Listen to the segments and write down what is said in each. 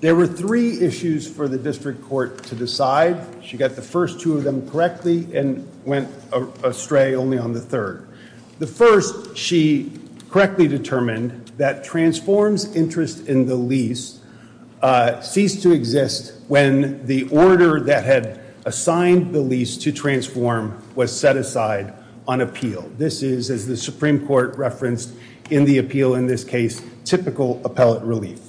There were three issues for the district court to decide. She got the first two of them correctly and went astray only on the third. The first, she correctly determined that transforms interest in the lease ceased to exist when the order that had assigned the lease to transform was set aside on appeal. This is, as the Supreme Court referenced in the appeal in this case, typical appellate relief.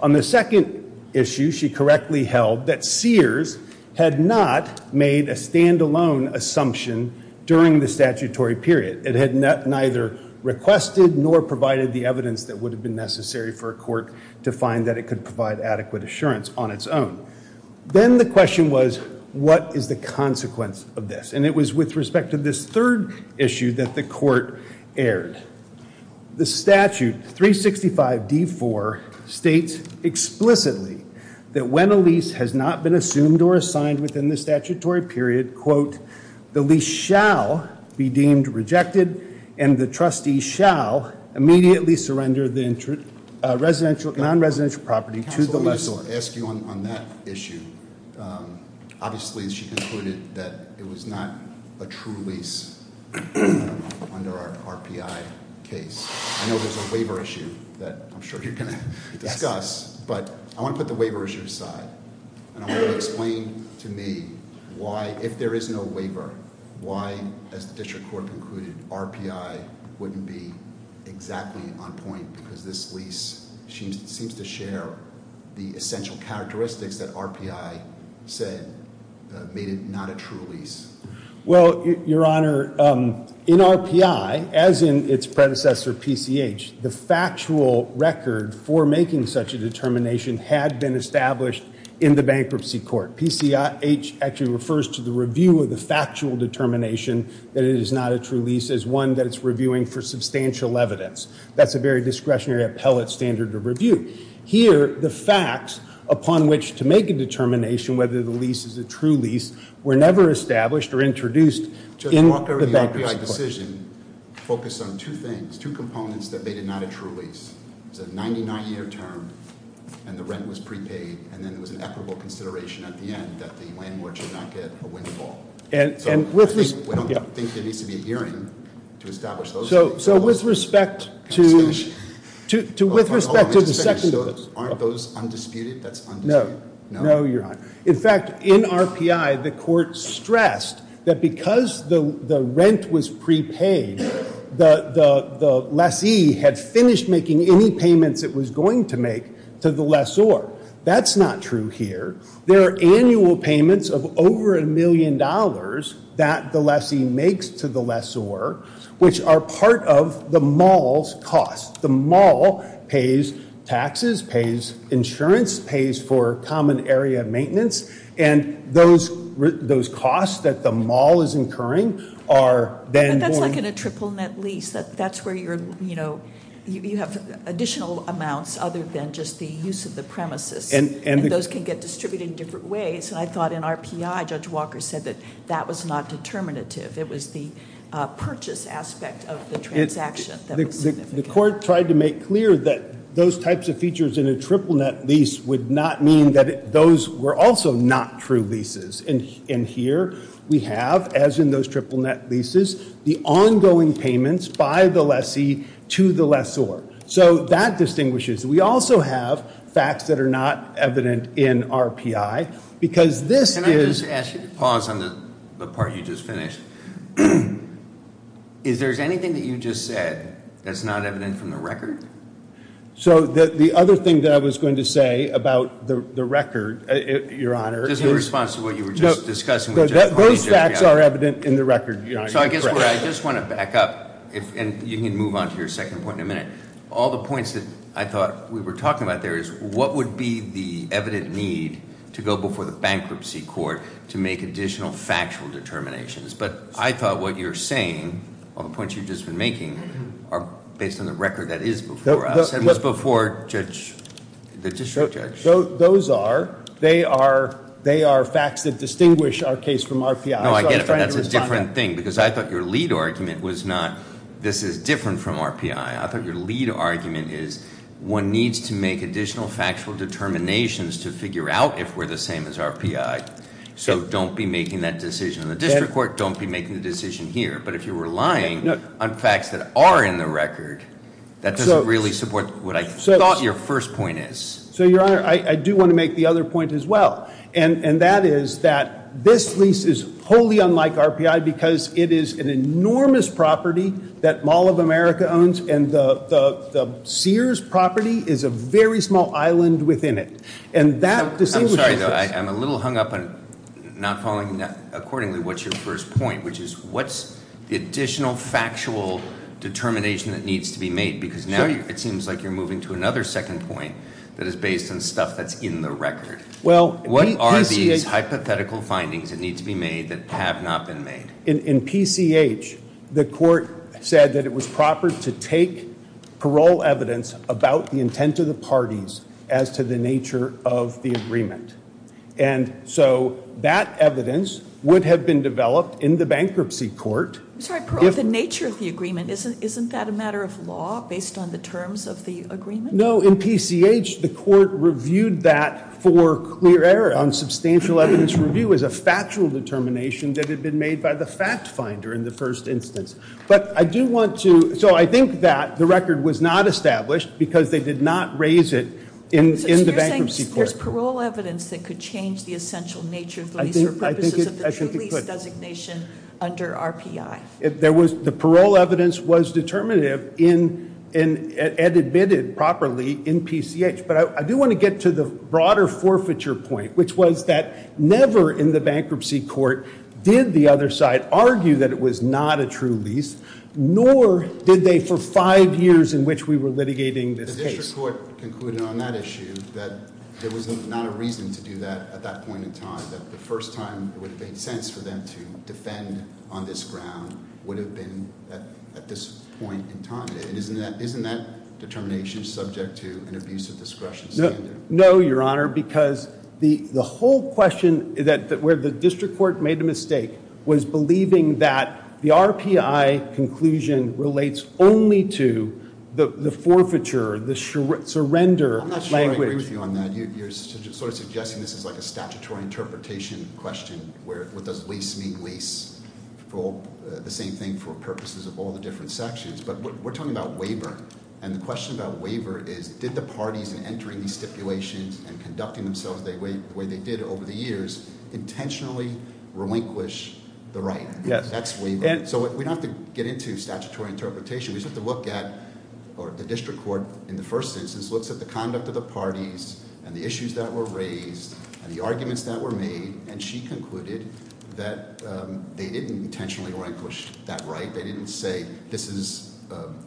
On the second issue, she correctly held that Sears had not made a stand-alone assumption during the statutory period. It had neither requested nor provided the evidence that would have been necessary for a court to find that it could provide adequate assurance on its own. Then the question was, what is the consequence of this? And it was with respect to this third issue that the court erred. The statute, 365D4, states explicitly that when a lease has not been assumed or assigned within the statutory period, quote, the lease shall be deemed rejected and the trustee shall immediately surrender the non-residential property to the lessor. So to ask you on that issue, obviously she concluded that it was not a true lease under our RPI case. I know there's a waiver issue that I'm sure you're going to discuss, but I want to put the waiver issue aside. And I want you to explain to me why, if there is no waiver, why, as the district court concluded, RPI wouldn't be exactly on point because this lease seems to share the essential characteristics that RPI said made it not a true lease. Well, Your Honor, in RPI, as in its predecessor, PCH, the factual record for making such a determination had been established in the bankruptcy court. PCH actually refers to the review of the factual determination that it is not a true lease as one that it's reviewing for substantial evidence. That's a very discretionary appellate standard of review. Here, the facts upon which to make a determination whether the lease is a true lease were never established or introduced in the bankruptcy court. Judge Walker, the RPI decision focused on two things, two components that made it not a true lease. It's a 99-year term, and the rent was prepaid, and then there was an equitable consideration at the end that the landlord should not get a windfall. And with respect- We don't think there needs to be a hearing to establish those things. So with respect to the second- Hold on, aren't those undisputed? That's undisputed. No, Your Honor. In fact, in RPI, the court stressed that because the rent was prepaid, the lessee had finished making any payments it was going to make to the lessor. That's not true here. There are annual payments of over $1 million that the lessee makes to the lessor, which are part of the mall's cost. The mall pays taxes, pays insurance, pays for common area maintenance, and those costs that the mall is incurring are then going- But that's like in a triple-net lease. That's where you're, you know, you have additional amounts other than just the use of the premises. And those can get distributed in different ways. And I thought in RPI, Judge Walker said that that was not determinative. It was the purchase aspect of the transaction that was significant. The court tried to make clear that those types of features in a triple-net lease would not mean that those were also not true leases. And here we have, as in those triple-net leases, the ongoing payments by the lessee to the lessor. So that distinguishes. We also have facts that are not evident in RPI, because this is- Can I just ask you to pause on the part you just finished? Is there anything that you just said that's not evident from the record? So the other thing that I was going to say about the record, Your Honor- Just in response to what you were just discussing- Those facts are evident in the record, Your Honor. So I guess what I just want to back up, and you can move on to your second point in a minute. All the points that I thought we were talking about there is what would be the evident need to go before the bankruptcy court to make additional factual determinations? But I thought what you're saying, all the points you've just been making, are based on the record that is before us. It was before the district judge. Those are. They are facts that distinguish our case from RPI. No, I get it, but that's a different thing, because I thought your lead argument was not, this is different from RPI. I thought your lead argument is one needs to make additional factual determinations to figure out if we're the same as RPI. So don't be making that decision in the district court. Don't be making the decision here. But if you're relying on facts that are in the record, that doesn't really support what I thought your first point is. So, Your Honor, I do want to make the other point as well. And that is that this lease is wholly unlike RPI because it is an enormous property that Mall of America owns. And the Sears property is a very small island within it. And that. I'm sorry, though, I'm a little hung up on not following accordingly what's your first point, which is what's the additional factual determination that needs to be made? Because now it seems like you're moving to another second point that is based on stuff that's in the record. Well, what are these hypothetical findings that need to be made that have not been made? In PCH, the court said that it was proper to take parole evidence about the intent of the parties as to the nature of the agreement. And so that evidence would have been developed in the bankruptcy court. I'm sorry, parole, the nature of the agreement. Isn't that a matter of law based on the terms of the agreement? No, in PCH, the court reviewed that for clear error on substantial evidence review as a factual determination that had been made by the fact finder in the first instance. But I do want to. So I think that the record was not established because they did not raise it in the bankruptcy court. So you're saying there's parole evidence that could change the essential nature of the lease or purposes of the true lease designation under RPI. The parole evidence was determinative and admitted properly in PCH. But I do want to get to the broader forfeiture point, which was that never in the bankruptcy court did the other side argue that it was not a true lease, nor did they for five years in which we were litigating this case. The district court concluded on that issue that there was not a reason to do that at that point in time, that the first time it would have made sense for them to defend on this ground would have been at this point in time. Isn't that determination subject to an abuse of discretion standard? No, Your Honor, because the whole question where the district court made a mistake was believing that the RPI conclusion relates only to the forfeiture, the surrender language. I'm not sure I agree with you on that. You're sort of suggesting this is like a statutory interpretation question, where what does lease mean lease for the same thing for purposes of all the different sections. But we're talking about waiver. And the question about waiver is did the parties in entering these stipulations and conducting themselves the way they did over the years intentionally relinquish the right? That's waiver. So we don't have to get into statutory interpretation. We just have to look at, or the district court in the first instance looks at the conduct of the parties and the issues that were raised and the arguments that were made. And she concluded that they didn't intentionally relinquish that right. They didn't say this is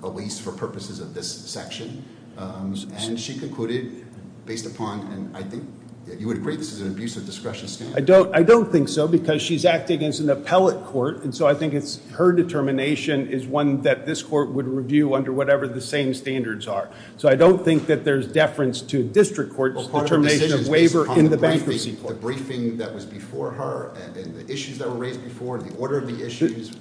a lease for purposes of this section. And she concluded based upon, and I think you would agree this is an abuse of discretion standard. I don't think so because she's acting as an appellate court. And so I think it's her determination is one that this court would review under whatever the same standards are. So I don't think that there's deference to district court's determination of waiver in the bankruptcy court. The briefing that was before her and the issues that were raised before and the order of the issues.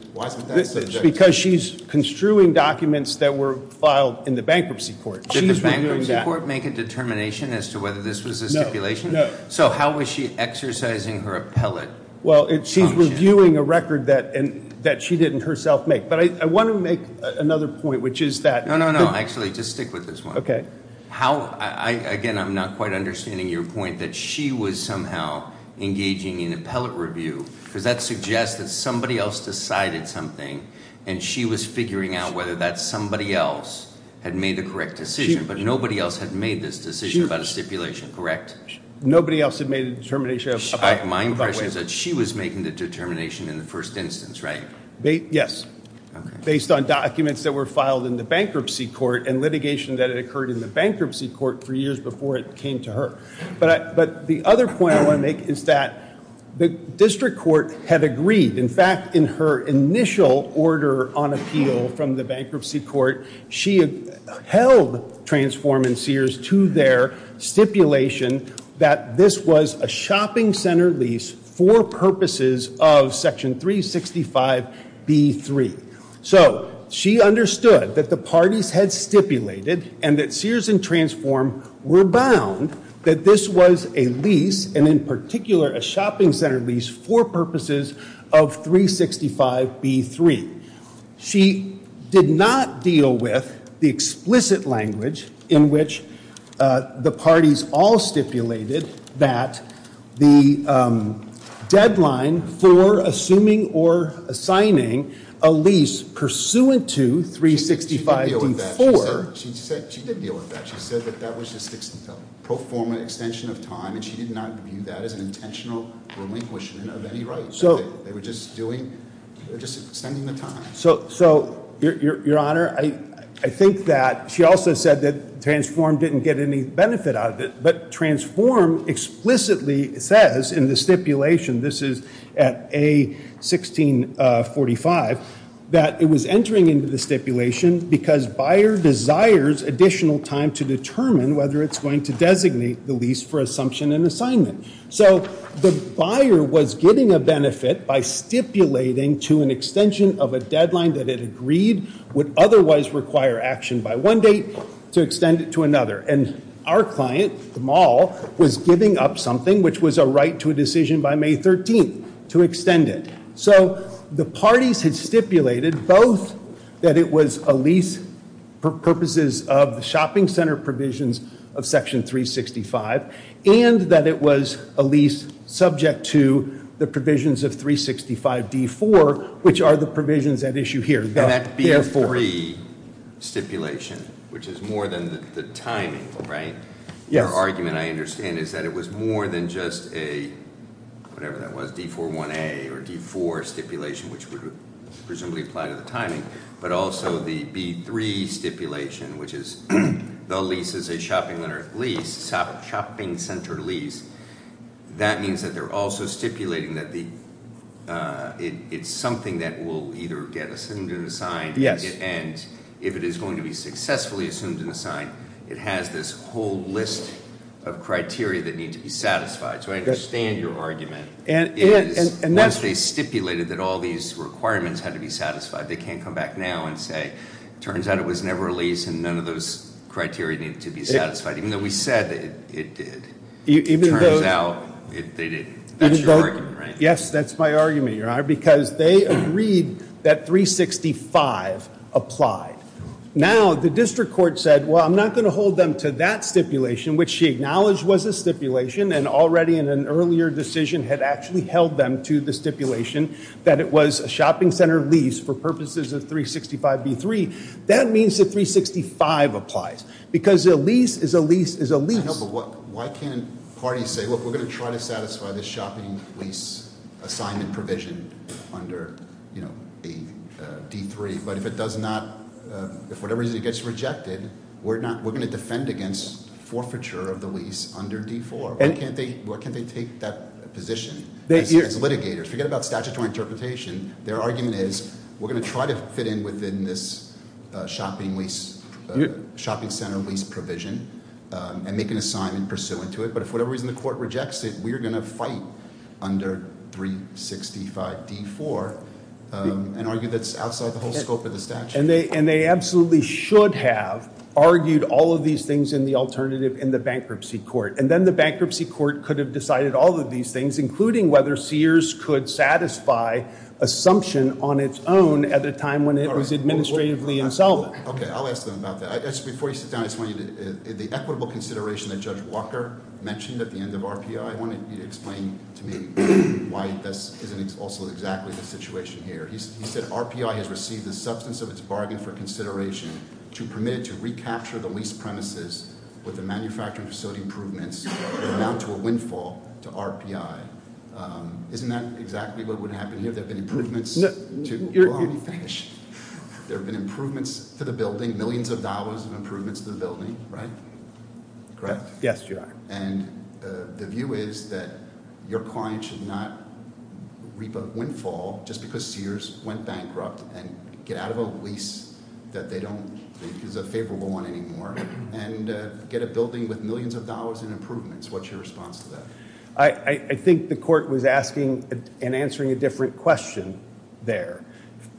Because she's construing documents that were filed in the bankruptcy court. Did the bankruptcy court make a determination as to whether this was a stipulation? No, no. So how was she exercising her appellate function? Well, she's reviewing a record that she didn't herself make. But I want to make another point, which is that- No, no, no. Actually, just stick with this one. Okay. Again, I'm not quite understanding your point that she was somehow engaging in appellate review. Because that suggests that somebody else decided something. And she was figuring out whether that somebody else had made the correct decision. But nobody else had made this decision about a stipulation, correct? Nobody else had made a determination about waiver. My impression is that she was making the determination in the first instance, right? Yes. Based on documents that were filed in the bankruptcy court and litigation that had occurred in the bankruptcy court for years before it came to her. But the other point I want to make is that the district court had agreed. In fact, in her initial order on appeal from the bankruptcy court, she held Transform and Sears to their stipulation that this was a shopping center lease for purposes of section 365B3. So she understood that the parties had stipulated and that Sears and Transform were bound that this was a lease, and in particular a shopping center lease, for purposes of 365B3. She did not deal with the explicit language in which the parties all stipulated that the deadline for assuming or assigning a lease pursuant to 365B4. She did deal with that. She said that that was just to perform an extension of time, and she did not view that as an intentional relinquishment of any right. They were just extending the time. So, Your Honor, I think that she also said that Transform didn't get any benefit out of it, but Transform explicitly says in the stipulation, this is at A1645, that it was entering into the stipulation because buyer desires additional time to determine whether it's going to designate the lease for assumption and assignment. So the buyer was getting a benefit by stipulating to an extension of a deadline that it agreed would otherwise require action by one date to extend it to another. And our client, the mall, was giving up something, which was a right to a decision by May 13th, to extend it. So the parties had stipulated both that it was a lease for purposes of the shopping center provisions of section 365, and that it was a lease subject to the provisions of 365D4, which are the provisions at issue here. And that B3 stipulation, which is more than the timing, right? Your argument, I understand, is that it was more than just a, whatever that was, D41A or D4 stipulation, which would presumably apply to the timing, but also the B3 stipulation, which is the lease is a shopping center lease. That means that they're also stipulating that it's something that will either get assumed and assigned. And if it is going to be successfully assumed and assigned, it has this whole list of criteria that need to be satisfied. So I understand your argument. Once they stipulated that all these requirements had to be satisfied, they can't come back now and say, turns out it was never a lease and none of those criteria needed to be satisfied, even though we said it did. It turns out they did. That's your argument, right? Yes, that's my argument, Your Honor, because they agreed that 365 applied. Now, the district court said, well, I'm not going to hold them to that stipulation, which she acknowledged was a stipulation, and already in an earlier decision had actually held them to the stipulation that it was a shopping center lease for purposes of 365B3. That means that 365 applies because a lease is a lease is a lease. No, but why can't parties say, look, we're going to try to satisfy this shopping lease assignment provision under D3, but if it does not, if whatever it is gets rejected, we're going to defend against forfeiture of the lease under D4. Why can't they take that position as litigators? Forget about statutory interpretation. Their argument is we're going to try to fit in within this shopping center lease provision and make an assignment pursuant to it. But if whatever reason the court rejects it, we are going to fight under 365D4 and argue that's outside the whole scope of the statute. And they absolutely should have argued all of these things in the alternative in the bankruptcy court. And then the bankruptcy court could have decided all of these things, including whether Sears could satisfy assumption on its own at a time when it was administratively insolvent. Okay, I'll ask them about that. Before you sit down, I just want you to, the equitable consideration that Judge Walker mentioned at the end of RPI, I want you to explain to me why this isn't also exactly the situation here. He said RPI has received the substance of its bargain for consideration to permit it to recapture the lease premises with the manufacturing facility improvements that amount to a windfall to RPI. Isn't that exactly what would happen here? There have been improvements to the building, millions of dollars of improvements to the building, right? Correct? Yes, Your Honor. And the view is that your client should not reap a windfall just because Sears went bankrupt and get out of a lease that they don't think is a favorable one anymore and get a building with millions of dollars in improvements. What's your response to that? I think the court was asking and answering a different question there.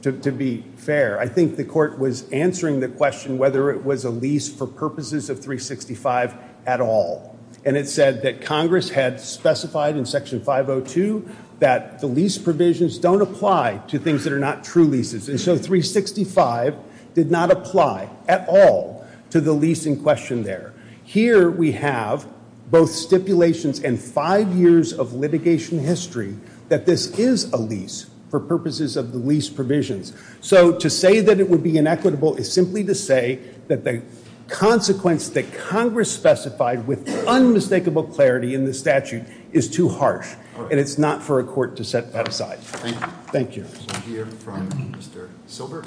To be fair, I think the court was answering the question whether it was a lease for purposes of 365 at all. And it said that Congress had specified in Section 502 that the lease provisions don't apply to things that are not true leases. And so 365 did not apply at all to the lease in question there. Here we have both stipulations and five years of litigation history that this is a lease for purposes of the lease provisions. So to say that it would be inequitable is simply to say that the consequence that Congress specified with unmistakable clarity in the statute is too harsh. And it's not for a court to set that aside. Thank you. We'll hear from Mr. Silber.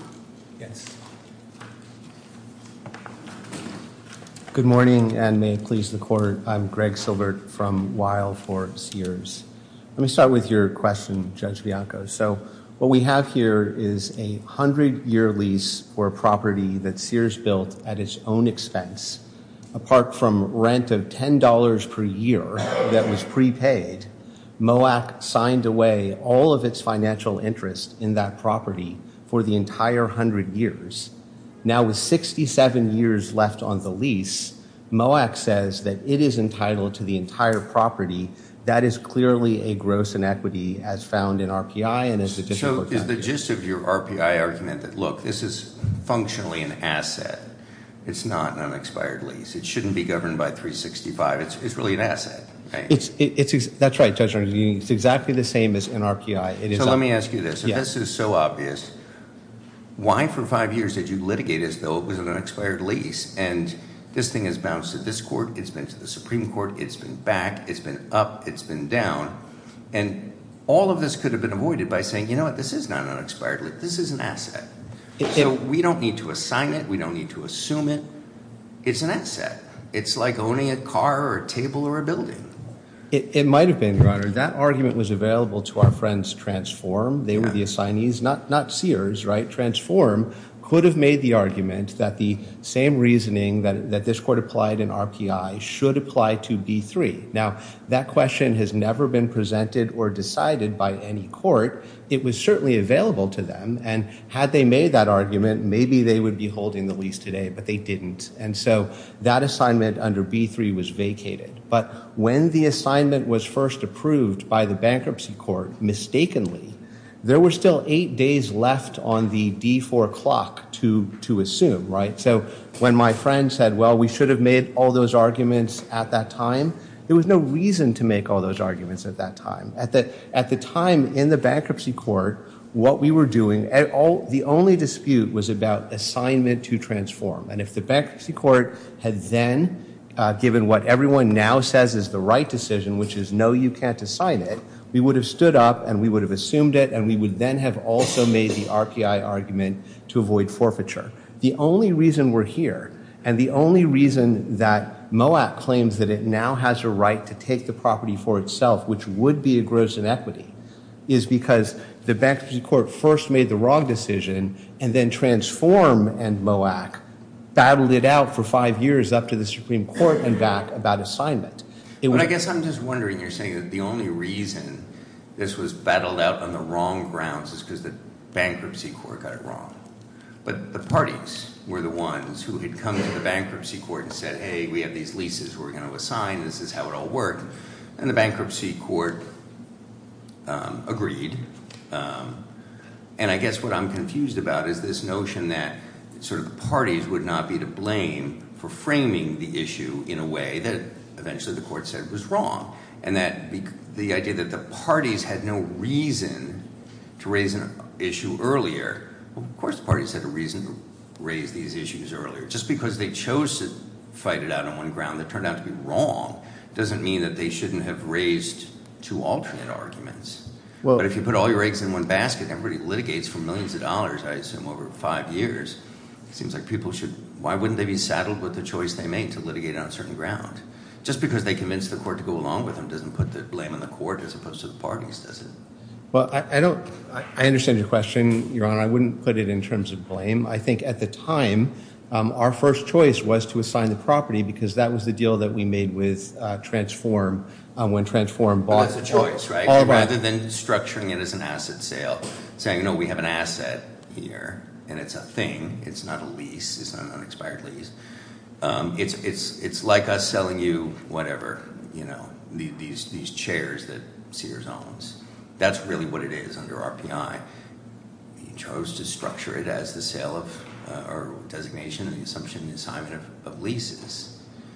Yes. Good morning and may it please the court. I'm Greg Silbert from Weill for Sears. Let me start with your question, Judge Bianco. So what we have here is a 100-year lease for a property that Sears built at its own expense. Apart from rent of $10 per year that was prepaid, MOAC signed away all of its financial interest in that property for the entire 100 years. Now with 67 years left on the lease, MOAC says that it is entitled to the entire property. That is clearly a gross inequity as found in RPI and as a district property. So is the gist of your RPI argument that, look, this is functionally an asset. It's not an unexpired lease. It shouldn't be governed by 365. It's really an asset, right? That's right, Judge Arnold. It's exactly the same as an RPI. So let me ask you this. If this is so obvious, why for five years did you litigate as though it was an unexpired lease? And this thing has bounced to this court. It's been to the Supreme Court. It's been back. It's been up. It's been down. And all of this could have been avoided by saying, you know what, this is not an unexpired lease. This is an asset. So we don't need to assign it. We don't need to assume it. It's an asset. It's like owning a car or a table or a building. It might have been, Your Honor. That argument was available to our friends, Transform. They were the assignees, not Sears, right? Transform could have made the argument that the same reasoning that this court applied in RPI should apply to B3. Now, that question has never been presented or decided by any court. It was certainly available to them. And had they made that argument, maybe they would be holding the lease today. But they didn't. And so that assignment under B3 was vacated. But when the assignment was first approved by the bankruptcy court mistakenly, there were still eight days left on the D4 clock to assume, right? So when my friend said, well, we should have made all those arguments at that time, there was no reason to make all those arguments at that time. At the time in the bankruptcy court, what we were doing, the only dispute was about assignment to Transform. And if the bankruptcy court had then given what everyone now says is the right decision, which is no, you can't assign it, we would have stood up and we would have assumed it and we would then have also made the RPI argument to avoid forfeiture. The only reason we're here and the only reason that MOAC claims that it now has a right to take the property for itself, which would be a gross inequity, is because the bankruptcy court first made the wrong decision and then Transform and MOAC battled it out for five years up to the Supreme Court and back about assignment. I guess I'm just wondering, you're saying that the only reason this was battled out on the wrong grounds is because the bankruptcy court got it wrong. But the parties were the ones who had come to the bankruptcy court and said, hey, we have these leases we're going to assign. This is how it all worked. And the bankruptcy court agreed. And I guess what I'm confused about is this notion that sort of the parties would not be to blame for framing the issue in a way that eventually the court said was wrong. And that the idea that the parties had no reason to raise an issue earlier, of course the parties had a reason to raise these issues earlier. Just because they chose to fight it out on one ground that turned out to be wrong doesn't mean that they shouldn't have raised two alternate arguments. But if you put all your eggs in one basket, everybody litigates for millions of dollars, I assume, over five years. It seems like people should – why wouldn't they be saddled with the choice they made to litigate on a certain ground? Just because they convinced the court to go along with them doesn't put the blame on the court as opposed to the parties, does it? Well, I don't – I understand your question, Your Honor. I wouldn't put it in terms of blame. I think at the time our first choice was to assign the property because that was the deal that we made with Transform when Transform bought the property. That was a choice, right? Rather than structuring it as an asset sale, saying, you know, we have an asset here and it's a thing. It's not a lease. It's not an unexpired lease. It's like us selling you whatever, you know, these chairs that Sears owns. That's really what it is under RPI. He chose to structure it as the sale of – or designation and the assumption and assignment of leases.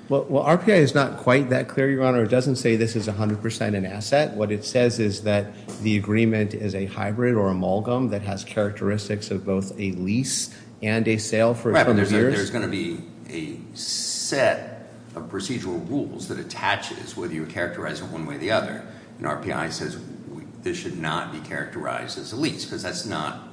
Well, RPI is not quite that clear, Your Honor. It doesn't say this is 100 percent an asset. What it says is that the agreement is a hybrid or amalgam that has characteristics of both a lease and a sale for a number of years. There's going to be a set of procedural rules that attaches whether you characterize it one way or the other. And RPI says this should not be characterized as a lease because that's not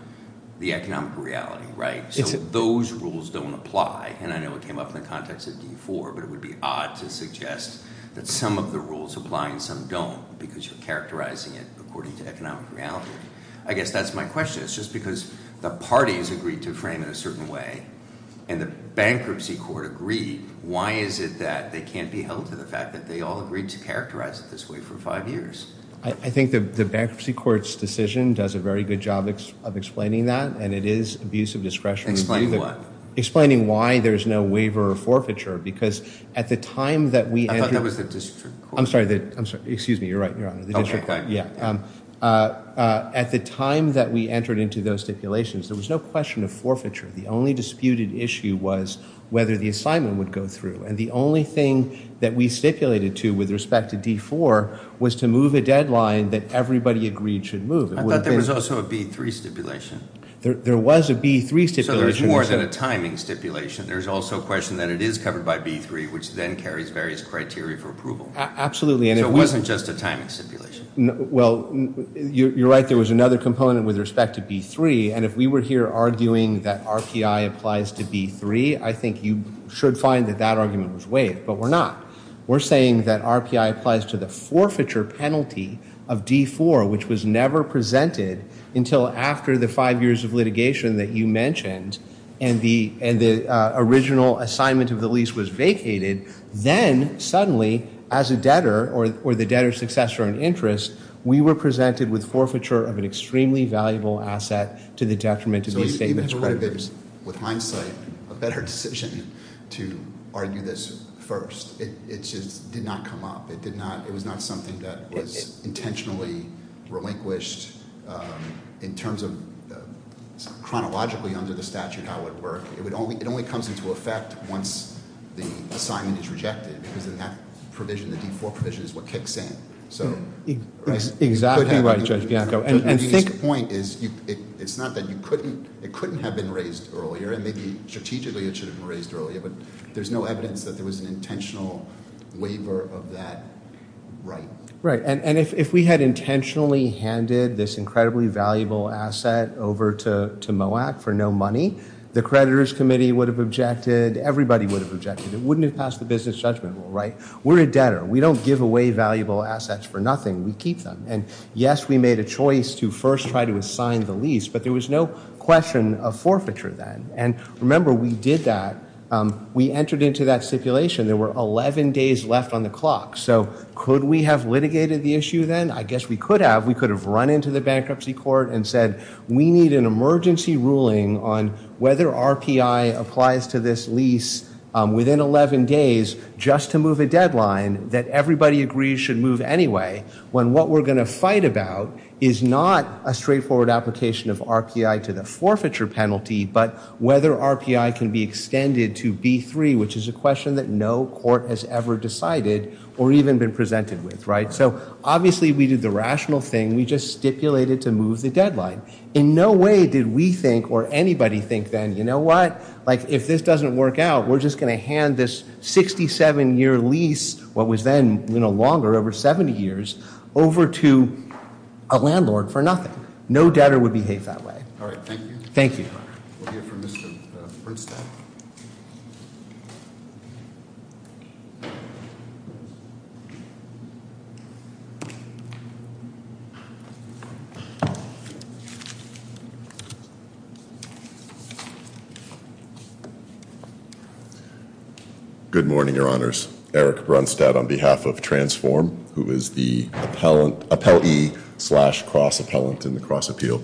the economic reality, right? So those rules don't apply. And I know it came up in the context of D4, but it would be odd to suggest that some of the rules apply and some don't because you're characterizing it according to economic reality. I guess that's my question. Just because the parties agreed to frame it a certain way and the bankruptcy court agreed, why is it that they can't be held to the fact that they all agreed to characterize it this way for five years? I think the bankruptcy court's decision does a very good job of explaining that, and it is abuse of discretion. Explaining what? Explaining why there's no waiver or forfeiture because at the time that we – I thought that was the district court. I'm sorry. Excuse me. You're right, Your Honor. The district court. There was no question of forfeiture. The only disputed issue was whether the assignment would go through. And the only thing that we stipulated to with respect to D4 was to move a deadline that everybody agreed should move. I thought there was also a B3 stipulation. There was a B3 stipulation. So there's more than a timing stipulation. There's also a question that it is covered by B3, which then carries various criteria for approval. Absolutely. So it wasn't just a timing stipulation. You're right. There was another component with respect to B3, and if we were here arguing that RPI applies to B3, I think you should find that that argument was waived, but we're not. We're saying that RPI applies to the forfeiture penalty of D4, which was never presented until after the five years of litigation that you mentioned and the original assignment of the lease was vacated. Then suddenly, as a debtor or the debtor's successor in interest, we were presented with forfeiture of an extremely valuable asset to the detriment of these statements creditors. So you have quite a bit, with hindsight, a better decision to argue this first. It just did not come up. It did not. It was not something that was intentionally relinquished in terms of chronologically under the statute how it would work. It only comes into effect once the assignment is rejected because then that provision, the D4 provision, is what kicks in. Exactly right, Judge Bianco. The point is it's not that you couldn't. It couldn't have been raised earlier, and maybe strategically it should have been raised earlier, but there's no evidence that there was an intentional waiver of that right. Right, and if we had intentionally handed this incredibly valuable asset over to MOAC for no money, the creditors committee would have objected. Everybody would have objected. It wouldn't have passed the business judgment rule, right? We're a debtor. We don't give away valuable assets for nothing. We keep them. And yes, we made a choice to first try to assign the lease, but there was no question of forfeiture then. And remember, we did that. We entered into that stipulation. There were 11 days left on the clock. So could we have litigated the issue then? I guess we could have. We could have run into the bankruptcy court and said, we need an emergency ruling on whether RPI applies to this lease within 11 days just to move a deadline that everybody agrees should move anyway, when what we're going to fight about is not a straightforward application of RPI to the forfeiture penalty, but whether RPI can be extended to B3, which is a question that no court has ever decided or even been presented with, right? So obviously we did the rational thing. We just stipulated to move the deadline. In no way did we think or anybody think then, you know what, like if this doesn't work out, we're just going to hand this 67-year lease, what was then longer, over 70 years, over to a landlord for nothing. No debtor would behave that way. All right. Thank you. Thank you. We'll hear from Mr. Brunstad. Good morning, Your Honors. Eric Brunstad on behalf of Transform, who is the appellee slash cross-appellant in the cross-appeal.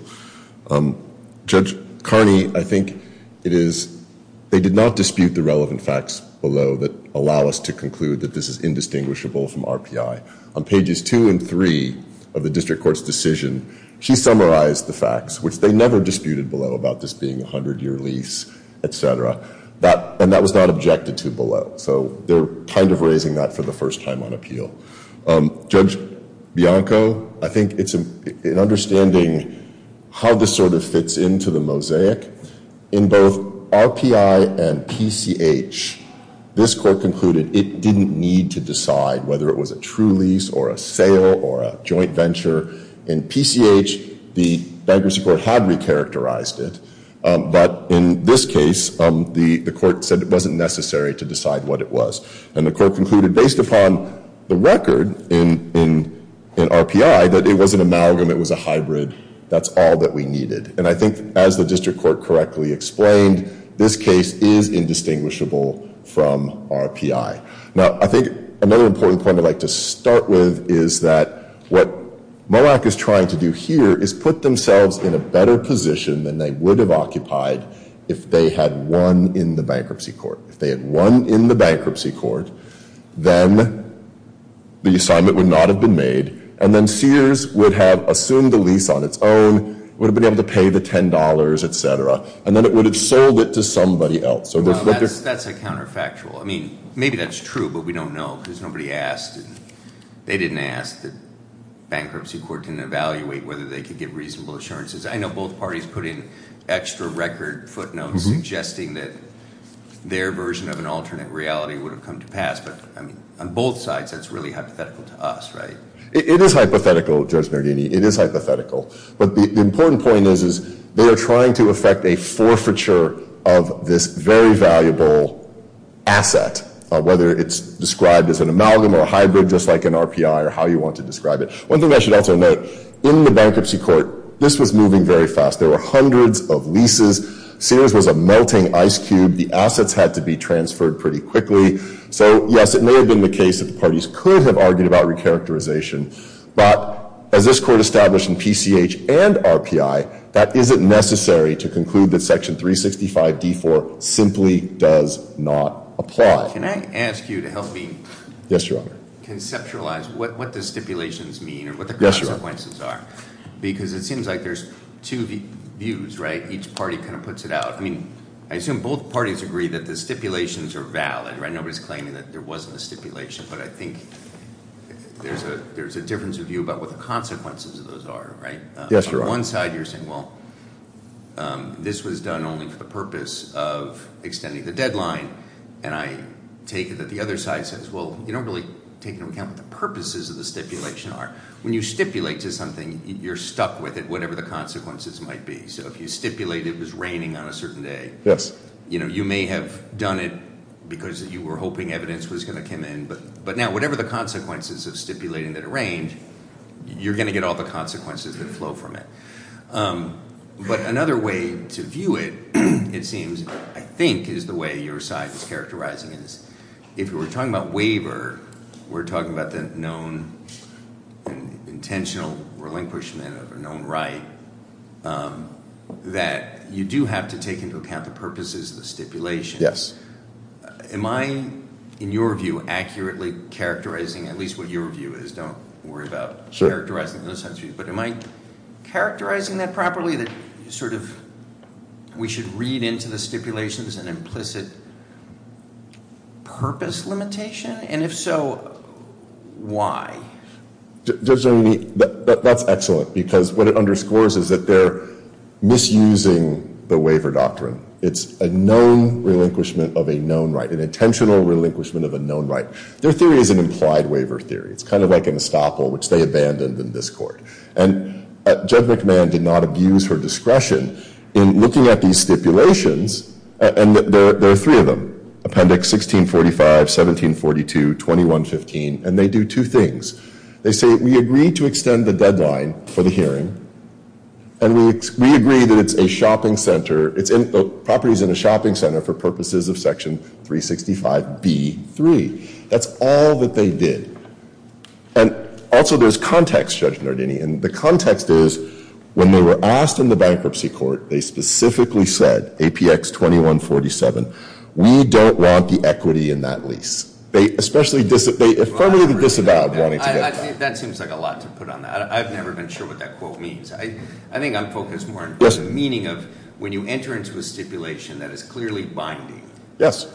Judge Carney, I think it is, they did not dispute the relevant facts below that allow us to conclude that this is indistinguishable from RPI. On pages two and three of the district court's decision, she summarized the facts, which they never disputed below about this being a 100-year lease, et cetera. And that was not objected to below. So they're kind of raising that for the first time on appeal. Judge Bianco, I think it's an understanding how this sort of fits into the mosaic. In both RPI and PCH, this court concluded it didn't need to decide whether it was a true lease or a sale or a joint venture. In PCH, the bankruptcy court had recharacterized it. But in this case, the court said it wasn't necessary to decide what it was. And the court concluded, based upon the record in RPI, that it was an amalgam. It was a hybrid. That's all that we needed. And I think, as the district court correctly explained, this case is indistinguishable from RPI. Now, I think another important point I'd like to start with is that what MOAC is trying to do here is put themselves in a better position than they would have occupied if they had won in the bankruptcy court. If they had won in the bankruptcy court, then the assignment would not have been made. And then Sears would have assumed the lease on its own, would have been able to pay the $10, etc. And then it would have sold it to somebody else. That's a counterfactual. I mean, maybe that's true, but we don't know because nobody asked. They didn't ask. The bankruptcy court didn't evaluate whether they could give reasonable assurances. I know both parties put in extra record footnotes suggesting that their version of an alternate reality would have come to pass. But, I mean, on both sides, that's really hypothetical to us, right? It is hypothetical, Judge Nardini. It is hypothetical. But the important point is they are trying to effect a forfeiture of this very valuable asset, whether it's described as an amalgam or a hybrid, just like an RPI or how you want to describe it. One thing I should also note, in the bankruptcy court, this was moving very fast. There were hundreds of leases. Sears was a melting ice cube. The assets had to be transferred pretty quickly. So, yes, it may have been the case that the parties could have argued about recharacterization. But as this court established in PCH and RPI, that isn't necessary to conclude that Section 365d4 simply does not apply. Can I ask you to help me conceptualize what the stipulations mean or what the consequences are? Because it seems like there's two views, right? Each party kind of puts it out. I mean, I assume both parties agree that the stipulations are valid, right? Nobody's claiming that there wasn't a stipulation. But I think there's a difference of view about what the consequences of those are, right? Yes, Your Honor. On one side, you're saying, well, this was done only for the purpose of extending the deadline. And I take it that the other side says, well, you don't really take into account what the purposes of the stipulation are. When you stipulate to something, you're stuck with it, whatever the consequences might be. So if you stipulate it was raining on a certain day, you may have done it because you were hoping evidence was going to come in. But now, whatever the consequences of stipulating that it rained, you're going to get all the consequences that flow from it. But another way to view it, it seems, I think, is the way your side is characterizing it. If we're talking about waiver, we're talking about the known intentional relinquishment of a known right that you do have to take into account the purposes of the stipulations. Yes. Am I, in your view, accurately characterizing at least what your view is? Don't worry about characterizing those types of views. But am I characterizing that properly, that sort of we should read into the stipulations an implicit purpose limitation? And if so, why? That's excellent, because what it underscores is that they're misusing the waiver doctrine. It's a known relinquishment of a known right, an intentional relinquishment of a known right. Their theory is an implied waiver theory. It's kind of like an estoppel, which they abandoned in this court. And Judge McMahon did not abuse her discretion in looking at these stipulations. And there are three of them, Appendix 1645, 1742, 2115. And they do two things. They say, we agree to extend the deadline for the hearing. And we agree that it's a shopping center. The property's in a shopping center for purposes of Section 365B3. That's all that they did. And also, there's context, Judge Nardini. And the context is, when they were asked in the bankruptcy court, they specifically said, APX 2147, we don't want the equity in that lease. They affirmingly disavowed wanting to get that. That seems like a lot to put on that. I've never been sure what that quote means. I think I'm focused more on the meaning of when you enter into a stipulation that is clearly binding. Yes.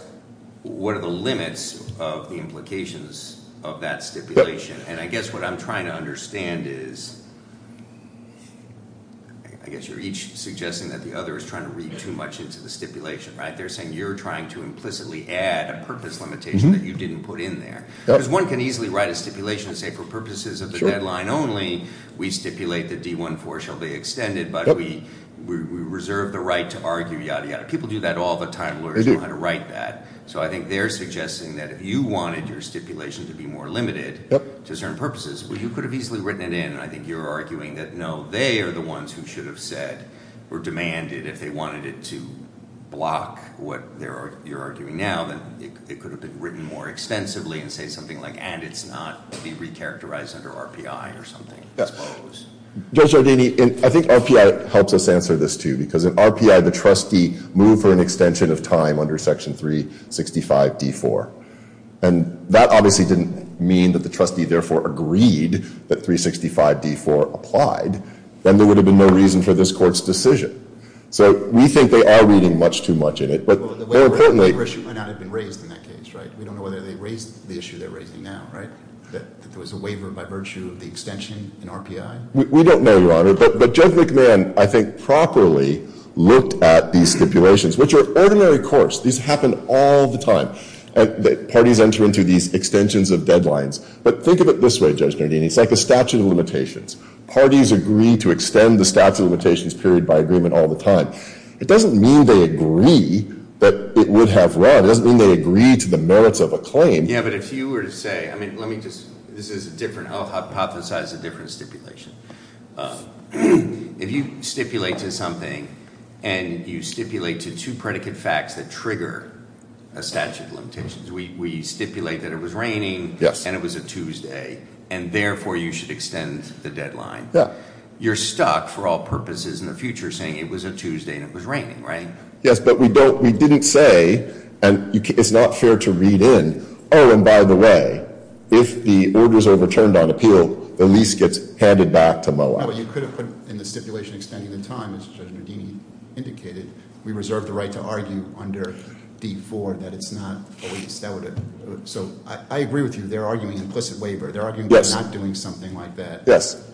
What are the limits of the implications of that stipulation? And I guess what I'm trying to understand is, I guess you're each suggesting that the other is trying to read too much into the stipulation, right? They're saying you're trying to implicitly add a purpose limitation that you didn't put in there. Because one can easily write a stipulation and say, for purposes of the deadline only, we stipulate that D14 shall be extended. But we reserve the right to argue, yada, yada. People do that all the time. Lawyers know how to write that. So I think they're suggesting that if you wanted your stipulation to be more limited to certain purposes, well, you could have easily written it in. And I think you're arguing that, no, they are the ones who should have said or demanded, if they wanted it to block what you're arguing now, then it could have been written more extensively and say something like, and it's not to be recharacterized under RPI or something, I suppose. Judge Giardini, I think RPI helps us answer this, too. Because in RPI, the trustee moved for an extension of time under Section 365 D4. And that obviously didn't mean that the trustee therefore agreed that 365 D4 applied. Then there would have been no reason for this Court's decision. So we think they are reading much too much in it. But more importantly— Well, the waiver issue might not have been raised in that case, right? We don't know whether they raised the issue they're raising now, right? That there was a waiver by virtue of the extension in RPI? We don't know, Your Honor. But Judge McMahon, I think, properly looked at these stipulations, which are ordinary courts. These happen all the time. Parties enter into these extensions of deadlines. But think of it this way, Judge Giardini. It's like a statute of limitations. Parties agree to extend the statute of limitations period by agreement all the time. It doesn't mean they agree that it would have run. It doesn't mean they agree to the merits of a claim. Yeah, but if you were to say—I mean, let me just—this is a different—I'll hypothesize a different stipulation. If you stipulate to something and you stipulate to two predicate facts that trigger a statute of limitations, we stipulate that it was raining and it was a Tuesday, and therefore you should extend the deadline. You're stuck, for all purposes in the future, saying it was a Tuesday and it was raining, right? Yes, but we don't—we didn't say, and it's not fair to read in, Oh, and by the way, if the order is overturned on appeal, the lease gets handed back to MOA. No, but you could have put in the stipulation extending the time, as Judge Giardini indicated. We reserve the right to argue under D-IV that it's not a lease. That would have—so I agree with you. They're arguing implicit waiver. They're arguing we're not doing something like that. Yes.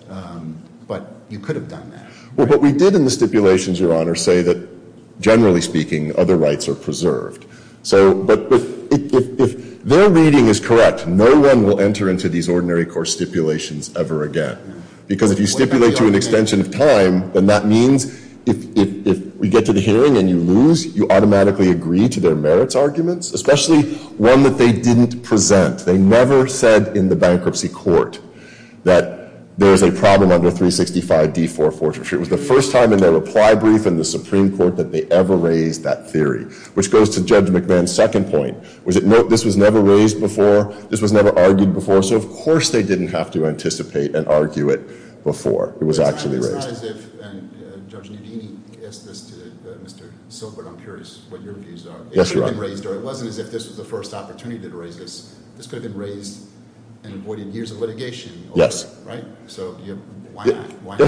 But you could have done that, right? Well, what we did in the stipulations, Your Honor, say that, generally speaking, other rights are preserved. So—but if their reading is correct, no one will enter into these ordinary court stipulations ever again, because if you stipulate to an extension of time, then that means if we get to the hearing and you lose, you automatically agree to their merits arguments, especially one that they didn't present. They never said in the bankruptcy court that there's a problem under 365 D-IV Fortitude. It was the first time in their reply brief in the Supreme Court that they ever raised that theory, which goes to Judge McMahon's second point. This was never raised before. This was never argued before. So, of course, they didn't have to anticipate and argue it before it was actually raised. It's not as if—and Judge Giardini asked this to Mr. Silbert. I'm curious what your views are. Yes, Your Honor. It could have been raised, or it wasn't as if this was the first opportunity to raise this. This could have been raised and avoided years of litigation. Yes. Right? So why not?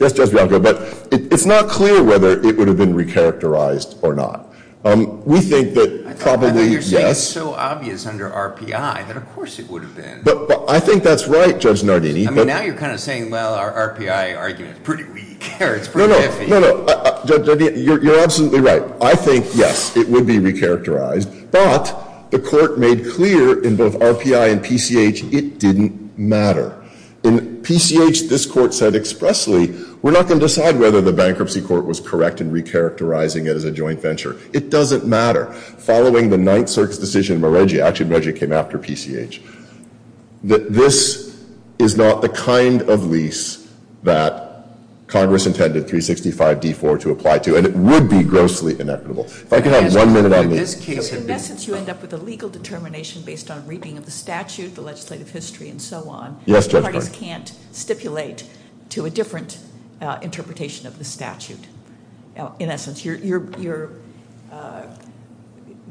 Yes, Judge Bianco. But it's not clear whether it would have been recharacterized or not. We think that probably, yes— I thought you were saying it's so obvious under RPI that, of course, it would have been. But I think that's right, Judge Giardini. I mean, now you're kind of saying, well, our RPI argument is pretty weak or it's pretty iffy. No, no. No, no. Judge Giardini, you're absolutely right. I think, yes, it would be recharacterized. But the court made clear in both RPI and PCH it didn't matter. In PCH, this court said expressly, we're not going to decide whether the bankruptcy court was correct in recharacterizing it as a joint venture. It doesn't matter. Following the Ninth Circus decision, Meredjia—actually, Meredjia came after PCH— that this is not the kind of lease that Congress intended 365D-4 to apply to, and it would be grossly inequitable. If I could have one minute on this. In essence, you end up with a legal determination based on reading of the statute, the legislative history, and so on. Yes, Judge Carney. Parties can't stipulate to a different interpretation of the statute. In essence, there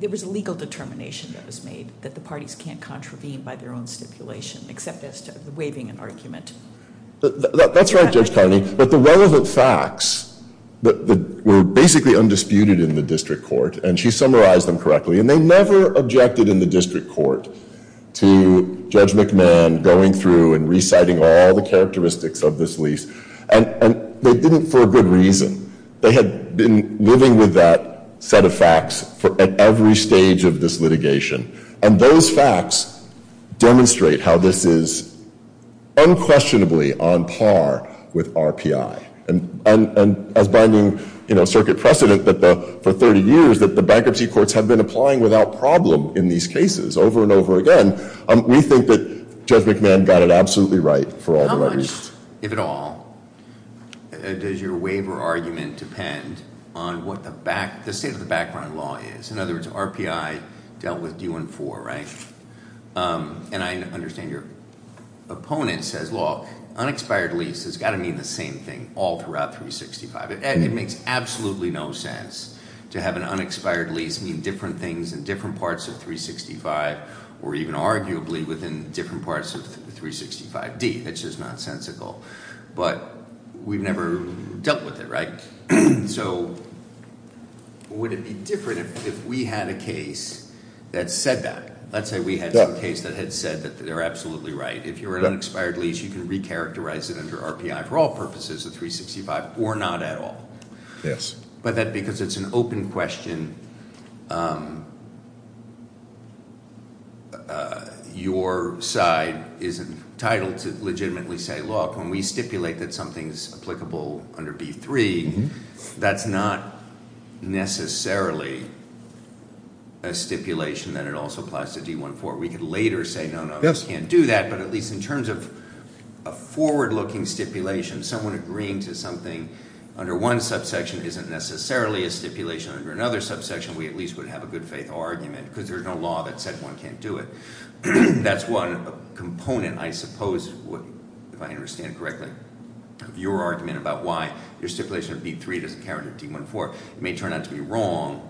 was a legal determination that was made that the parties can't contravene by their own stipulation except as to waiving an argument. That's right, Judge Carney. But the relevant facts were basically undisputed in the district court, and she summarized them correctly. And they never objected in the district court to Judge McMahon going through and reciting all the characteristics of this lease. And they didn't for good reason. They had been living with that set of facts at every stage of this litigation. And those facts demonstrate how this is unquestionably on par with RPI. And as binding circuit precedent for 30 years that the bankruptcy courts have been applying without problem in these cases over and over again, we think that Judge McMahon got it absolutely right for all the right reasons. How much, if at all, does your waiver argument depend on what the state of the background law is? In other words, RPI dealt with D-1-4, right? And I understand your opponent says, well, unexpired lease has got to mean the same thing all throughout 365. It makes absolutely no sense to have an unexpired lease mean different things in different parts of 365, or even arguably within different parts of 365D. That's just nonsensical. But we've never dealt with it, right? So would it be different if we had a case that said that? Let's say we had some case that had said that they're absolutely right. If you're an unexpired lease, you can recharacterize it under RPI for all purposes of 365 or not at all. Yes. But that because it's an open question, your side isn't entitled to legitimately say, look, when we stipulate that something's applicable under B-3, that's not necessarily a stipulation that it also applies to D-1-4. We could later say, no, no, we can't do that. But at least in terms of a forward-looking stipulation, someone agreeing to something under one subsection isn't necessarily a stipulation under another subsection. We at least would have a good-faith argument because there's no law that said one can't do it. That's one component, I suppose, if I understand correctly, of your argument about why your stipulation of B-3 doesn't count under D-1-4. It may turn out to be wrong.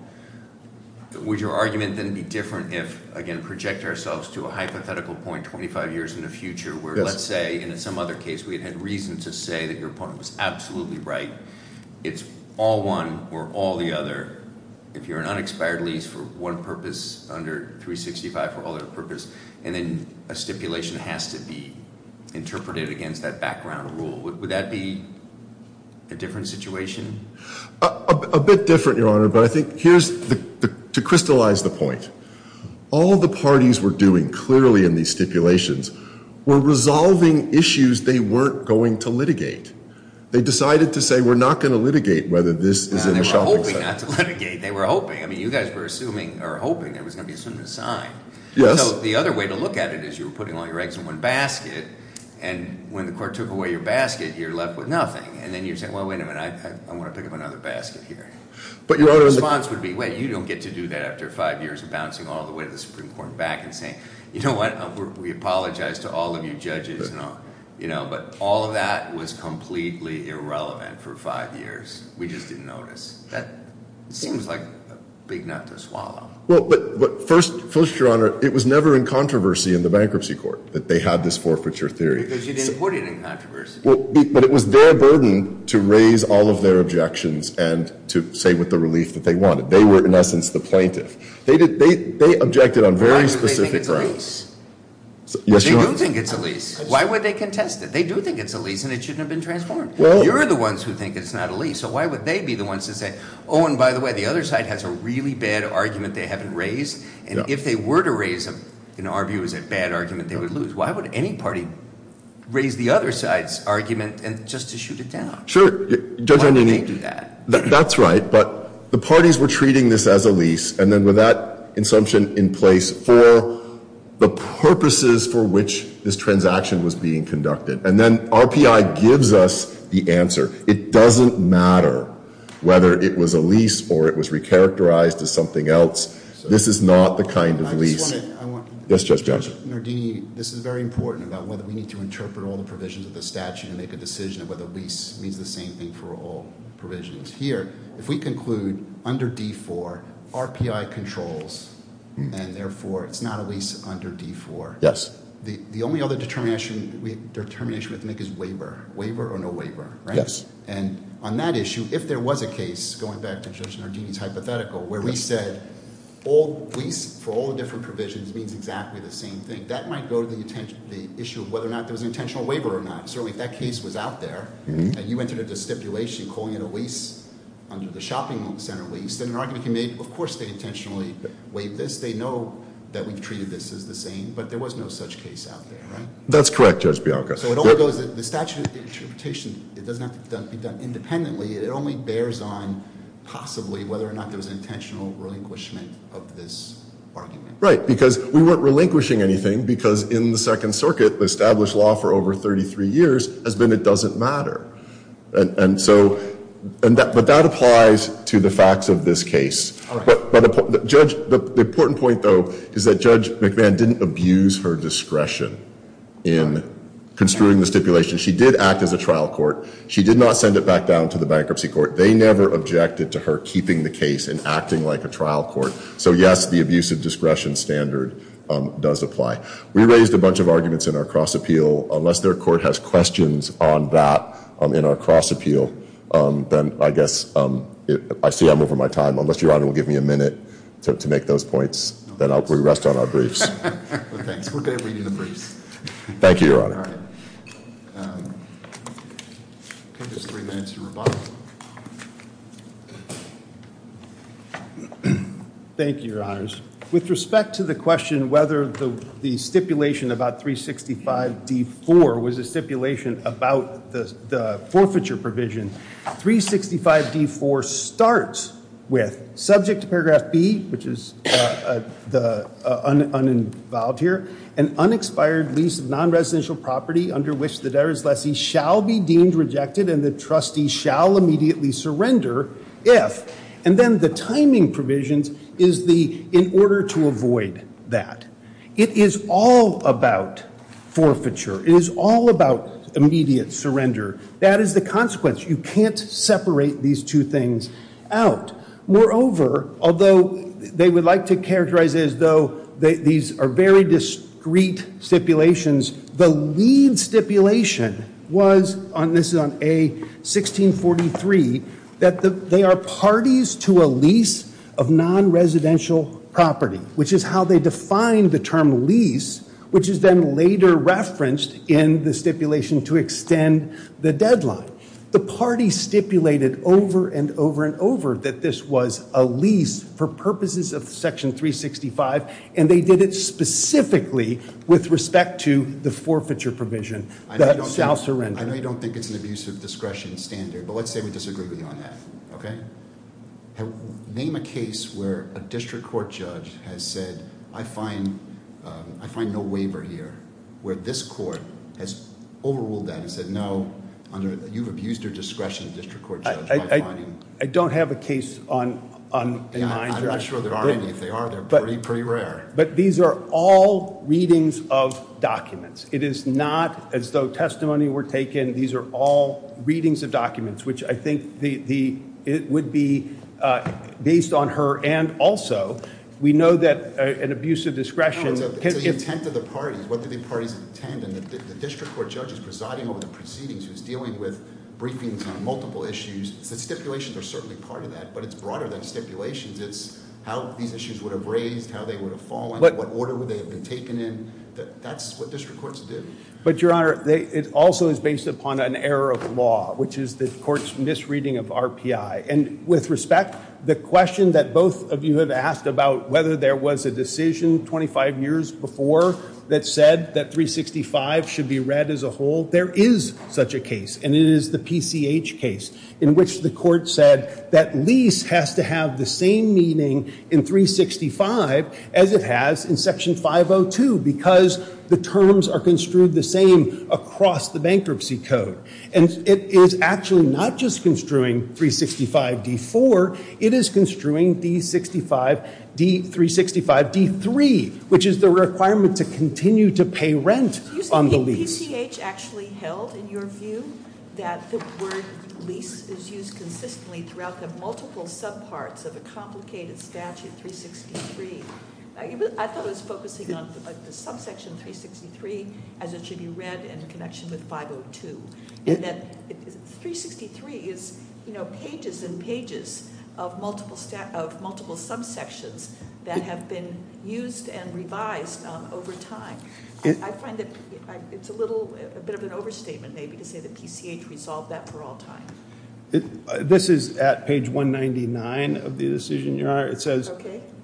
Would your argument then be different if, again, project ourselves to a hypothetical point 25 years in the future where let's say in some other case we had had reason to say that your opponent was absolutely right. It's all one or all the other. If you're an unexpired lease for one purpose under 365 for all other purpose, and then a stipulation has to be interpreted against that background rule, would that be a different situation? A bit different, Your Honor. But I think here's to crystallize the point. All the parties were doing clearly in these stipulations were resolving issues they weren't going to litigate. They decided to say we're not going to litigate whether this is in the shopping center. They decided not to litigate. They were hoping. I mean, you guys were assuming or hoping it was going to be soon assigned. So the other way to look at it is you were putting all your eggs in one basket, and when the court took away your basket, you're left with nothing. And then you're saying, well, wait a minute. I want to pick up another basket here. But your response would be, wait, you don't get to do that after five years of bouncing all the way to the Supreme Court and back and saying, you know what? We apologize to all of you judges. But all of that was completely irrelevant for five years. We just didn't notice. That seems like a big nut to swallow. Well, but first, Your Honor, it was never in controversy in the bankruptcy court that they had this forfeiture theory. Because you didn't put it in controversy. But it was their burden to raise all of their objections and to say with the relief that they wanted. They were, in essence, the plaintiff. They objected on very specific grounds. Yes, Your Honor. But they do think it's a lease. Why would they contest it? They do think it's a lease, and it shouldn't have been transformed. You're the ones who think it's not a lease. So why would they be the ones to say, oh, and by the way, the other side has a really bad argument they haven't raised. And if they were to raise a, in our view, a bad argument, they would lose. Why would any party raise the other side's argument just to shoot it down? Sure. Why would they do that? That's right. But the parties were treating this as a lease. And then with that assumption in place for the purposes for which this transaction was being conducted. And then RPI gives us the answer. It doesn't matter whether it was a lease or it was recharacterized as something else. This is not the kind of lease. I just want to. Yes, Judge Johnson. Mr. Nardini, this is very important about whether we need to interpret all the provisions of the statute and make a decision of whether lease means the same thing for all provisions. Here, if we conclude under D4, RPI controls, and therefore it's not a lease under D4. Yes. The only other determination we have to make is waiver. Waiver or no waiver, right? And on that issue, if there was a case, going back to Judge Nardini's hypothetical, where we said lease for all the different provisions means exactly the same thing. That might go to the issue of whether or not there was an intentional waiver or not. Certainly if that case was out there and you entered a stipulation calling it a lease under the shopping center lease, then an argument can be made, of course they intentionally waived this. They know that we've treated this as the same, but there was no such case out there, right? That's correct, Judge Bianca. So it all goes, the statute of interpretation, it doesn't have to be done independently. It only bears on possibly whether or not there was an intentional relinquishment of this argument. Right, because we weren't relinquishing anything because in the Second Circuit, the established law for over 33 years has been it doesn't matter. And so, but that applies to the facts of this case. All right. The important point, though, is that Judge McMahon didn't abuse her discretion in construing the stipulation. She did act as a trial court. She did not send it back down to the bankruptcy court. They never objected to her keeping the case and acting like a trial court. So, yes, the abuse of discretion standard does apply. We raised a bunch of arguments in our cross appeal. Unless their court has questions on that in our cross appeal, then I guess, I see I'm over my time. Unless Your Honor will give me a minute to make those points, then I'll re-rest on our briefs. Well, thanks. We're good at reading the briefs. Thank you, Your Honor. All right. Give us three minutes to rebut. Thank you, Your Honors. With respect to the question whether the stipulation about 365D4 was a stipulation about the forfeiture provision, 365D4 starts with, subject to paragraph B, which is uninvolved here, an unexpired lease of non-residential property under which the debtor's lessee shall be deemed rejected and the trustee shall immediately surrender if. And then the timing provisions is the in order to avoid that. It is all about forfeiture. It is all about immediate surrender. That is the consequence. You can't separate these two things out. Moreover, although they would like to characterize it as though these are very discreet stipulations, the lead stipulation was, and this is on A1643, that they are parties to a lease of non-residential property, which is how they define the term lease, which is then later referenced in the stipulation to extend the deadline. The party stipulated over and over and over that this was a lease for purposes of Section 365, and they did it specifically with respect to the forfeiture provision. That shall surrender. I know you don't think it's an abuse of discretion standard, but let's say we disagree with you on that. Name a case where a district court judge has said, I find no waiver here, where this court has overruled that and said, no, you've abused your discretion as a district court judge. I don't have a case on my mind. I'm not sure there are any. If there are, they're pretty rare. But these are all readings of documents. It is not as though testimony were taken. These are all readings of documents, which I think would be based on her, and also we know that an abuse of discretion. No, it's the intent of the parties. What do the parties intend? And the district court judge is presiding over the proceedings, who's dealing with briefings on multiple issues. The stipulations are certainly part of that, but it's broader than stipulations. It's how these issues would have raised, how they would have fallen, what order would they have been taken in. That's what district courts do. But, Your Honor, it also is based upon an error of law, which is the court's misreading of RPI. And with respect, the question that both of you have asked about whether there was a decision 25 years before that said that 365 should be read as a whole, there is such a case, and it is the PCH case, in which the court said that lease has to have the same meaning in 365 as it has in Section 502, because the terms are construed the same across the bankruptcy code. And it is actually not just construing 365d-4. It is construing 365d-3, which is the requirement to continue to pay rent on the lease. Has the PCH actually held, in your view, that the word lease is used consistently throughout the multiple subparts of a complicated statute, 363? I thought it was focusing on the subsection 363 as it should be read in connection with 502. And that 363 is pages and pages of multiple subsections that have been used and revised over time. I find that it's a little bit of an overstatement, maybe, to say that PCH resolved that for all time. This is at page 199 of the decision, Your Honor. It says,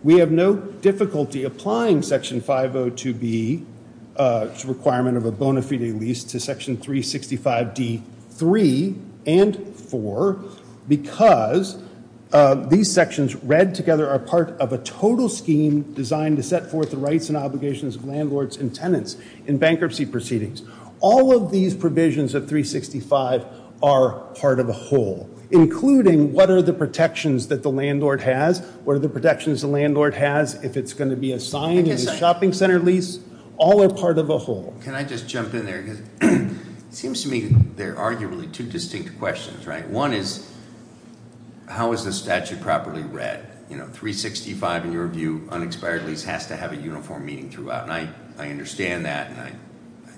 we have no difficulty applying Section 502B, which is a requirement of a bona fide lease, to Section 365d-3 and 4, because these sections read together are part of a total scheme designed to set forth the rights and obligations of landlords and tenants in bankruptcy proceedings. All of these provisions of 365 are part of a whole, including what are the protections that the landlord has, what are the protections the landlord has if it's going to be assigned as a shopping center lease, all are part of a whole. Can I just jump in there? Because it seems to me there are arguably two distinct questions, right? One is, how is the statute properly read? You know, 365, in your view, unexpired lease, has to have a uniform meaning throughout. And I understand that, and I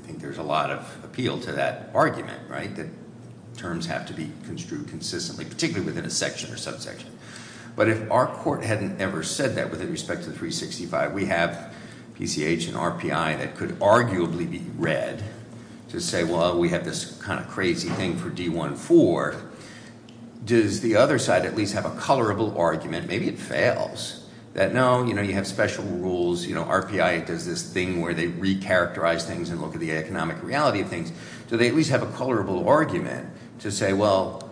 think there's a lot of appeal to that argument, right, that terms have to be construed consistently, particularly within a section or subsection. But if our court hadn't ever said that with respect to 365, we have PCH and RPI that could arguably be read to say, well, we have this kind of crazy thing for D-1-4. Does the other side at least have a colorable argument? Maybe it fails. That, no, you know, you have special rules. You know, RPI does this thing where they recharacterize things and look at the economic reality of things. Do they at least have a colorable argument to say, well,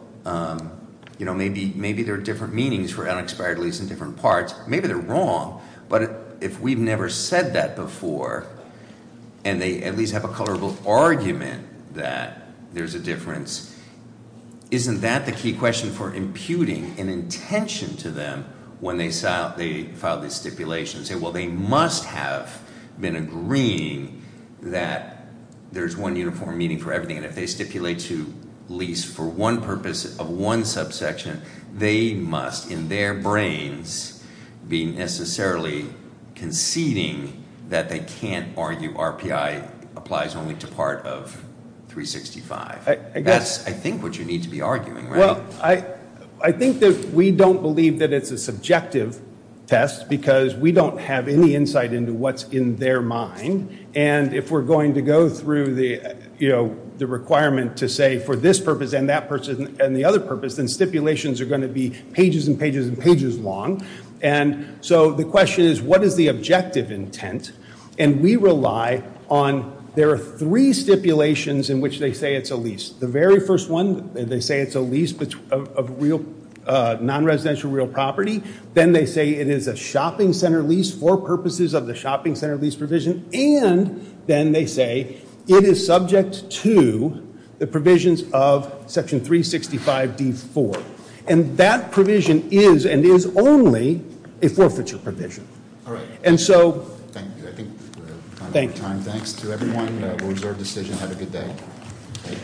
you know, maybe there are different meanings for unexpired lease in different parts. Maybe they're wrong. But if we've never said that before and they at least have a colorable argument that there's a difference, isn't that the key question for imputing an intention to them when they file these stipulations, say, well, they must have been agreeing that there's one uniform meaning for everything. And if they stipulate to lease for one purpose of one subsection, they must in their brains be necessarily conceding that they can't argue RPI applies only to part of 365. That's, I think, what you need to be arguing, right? I think that we don't believe that it's a subjective test because we don't have any insight into what's in their mind. And if we're going to go through the requirement to say for this purpose and that purpose and the other purpose, then stipulations are going to be pages and pages and pages long. And so the question is, what is the objective intent? And we rely on there are three stipulations in which they say it's a lease. The very first one, they say it's a lease of real non-residential real property. Then they say it is a shopping center lease for purposes of the shopping center lease provision. And then they say it is subject to the provisions of Section 365 D4. And that provision is and is only a forfeiture provision. All right. And so. Thank you. I think we're out of time. Thanks to everyone. We'll reserve decision. Have a good day.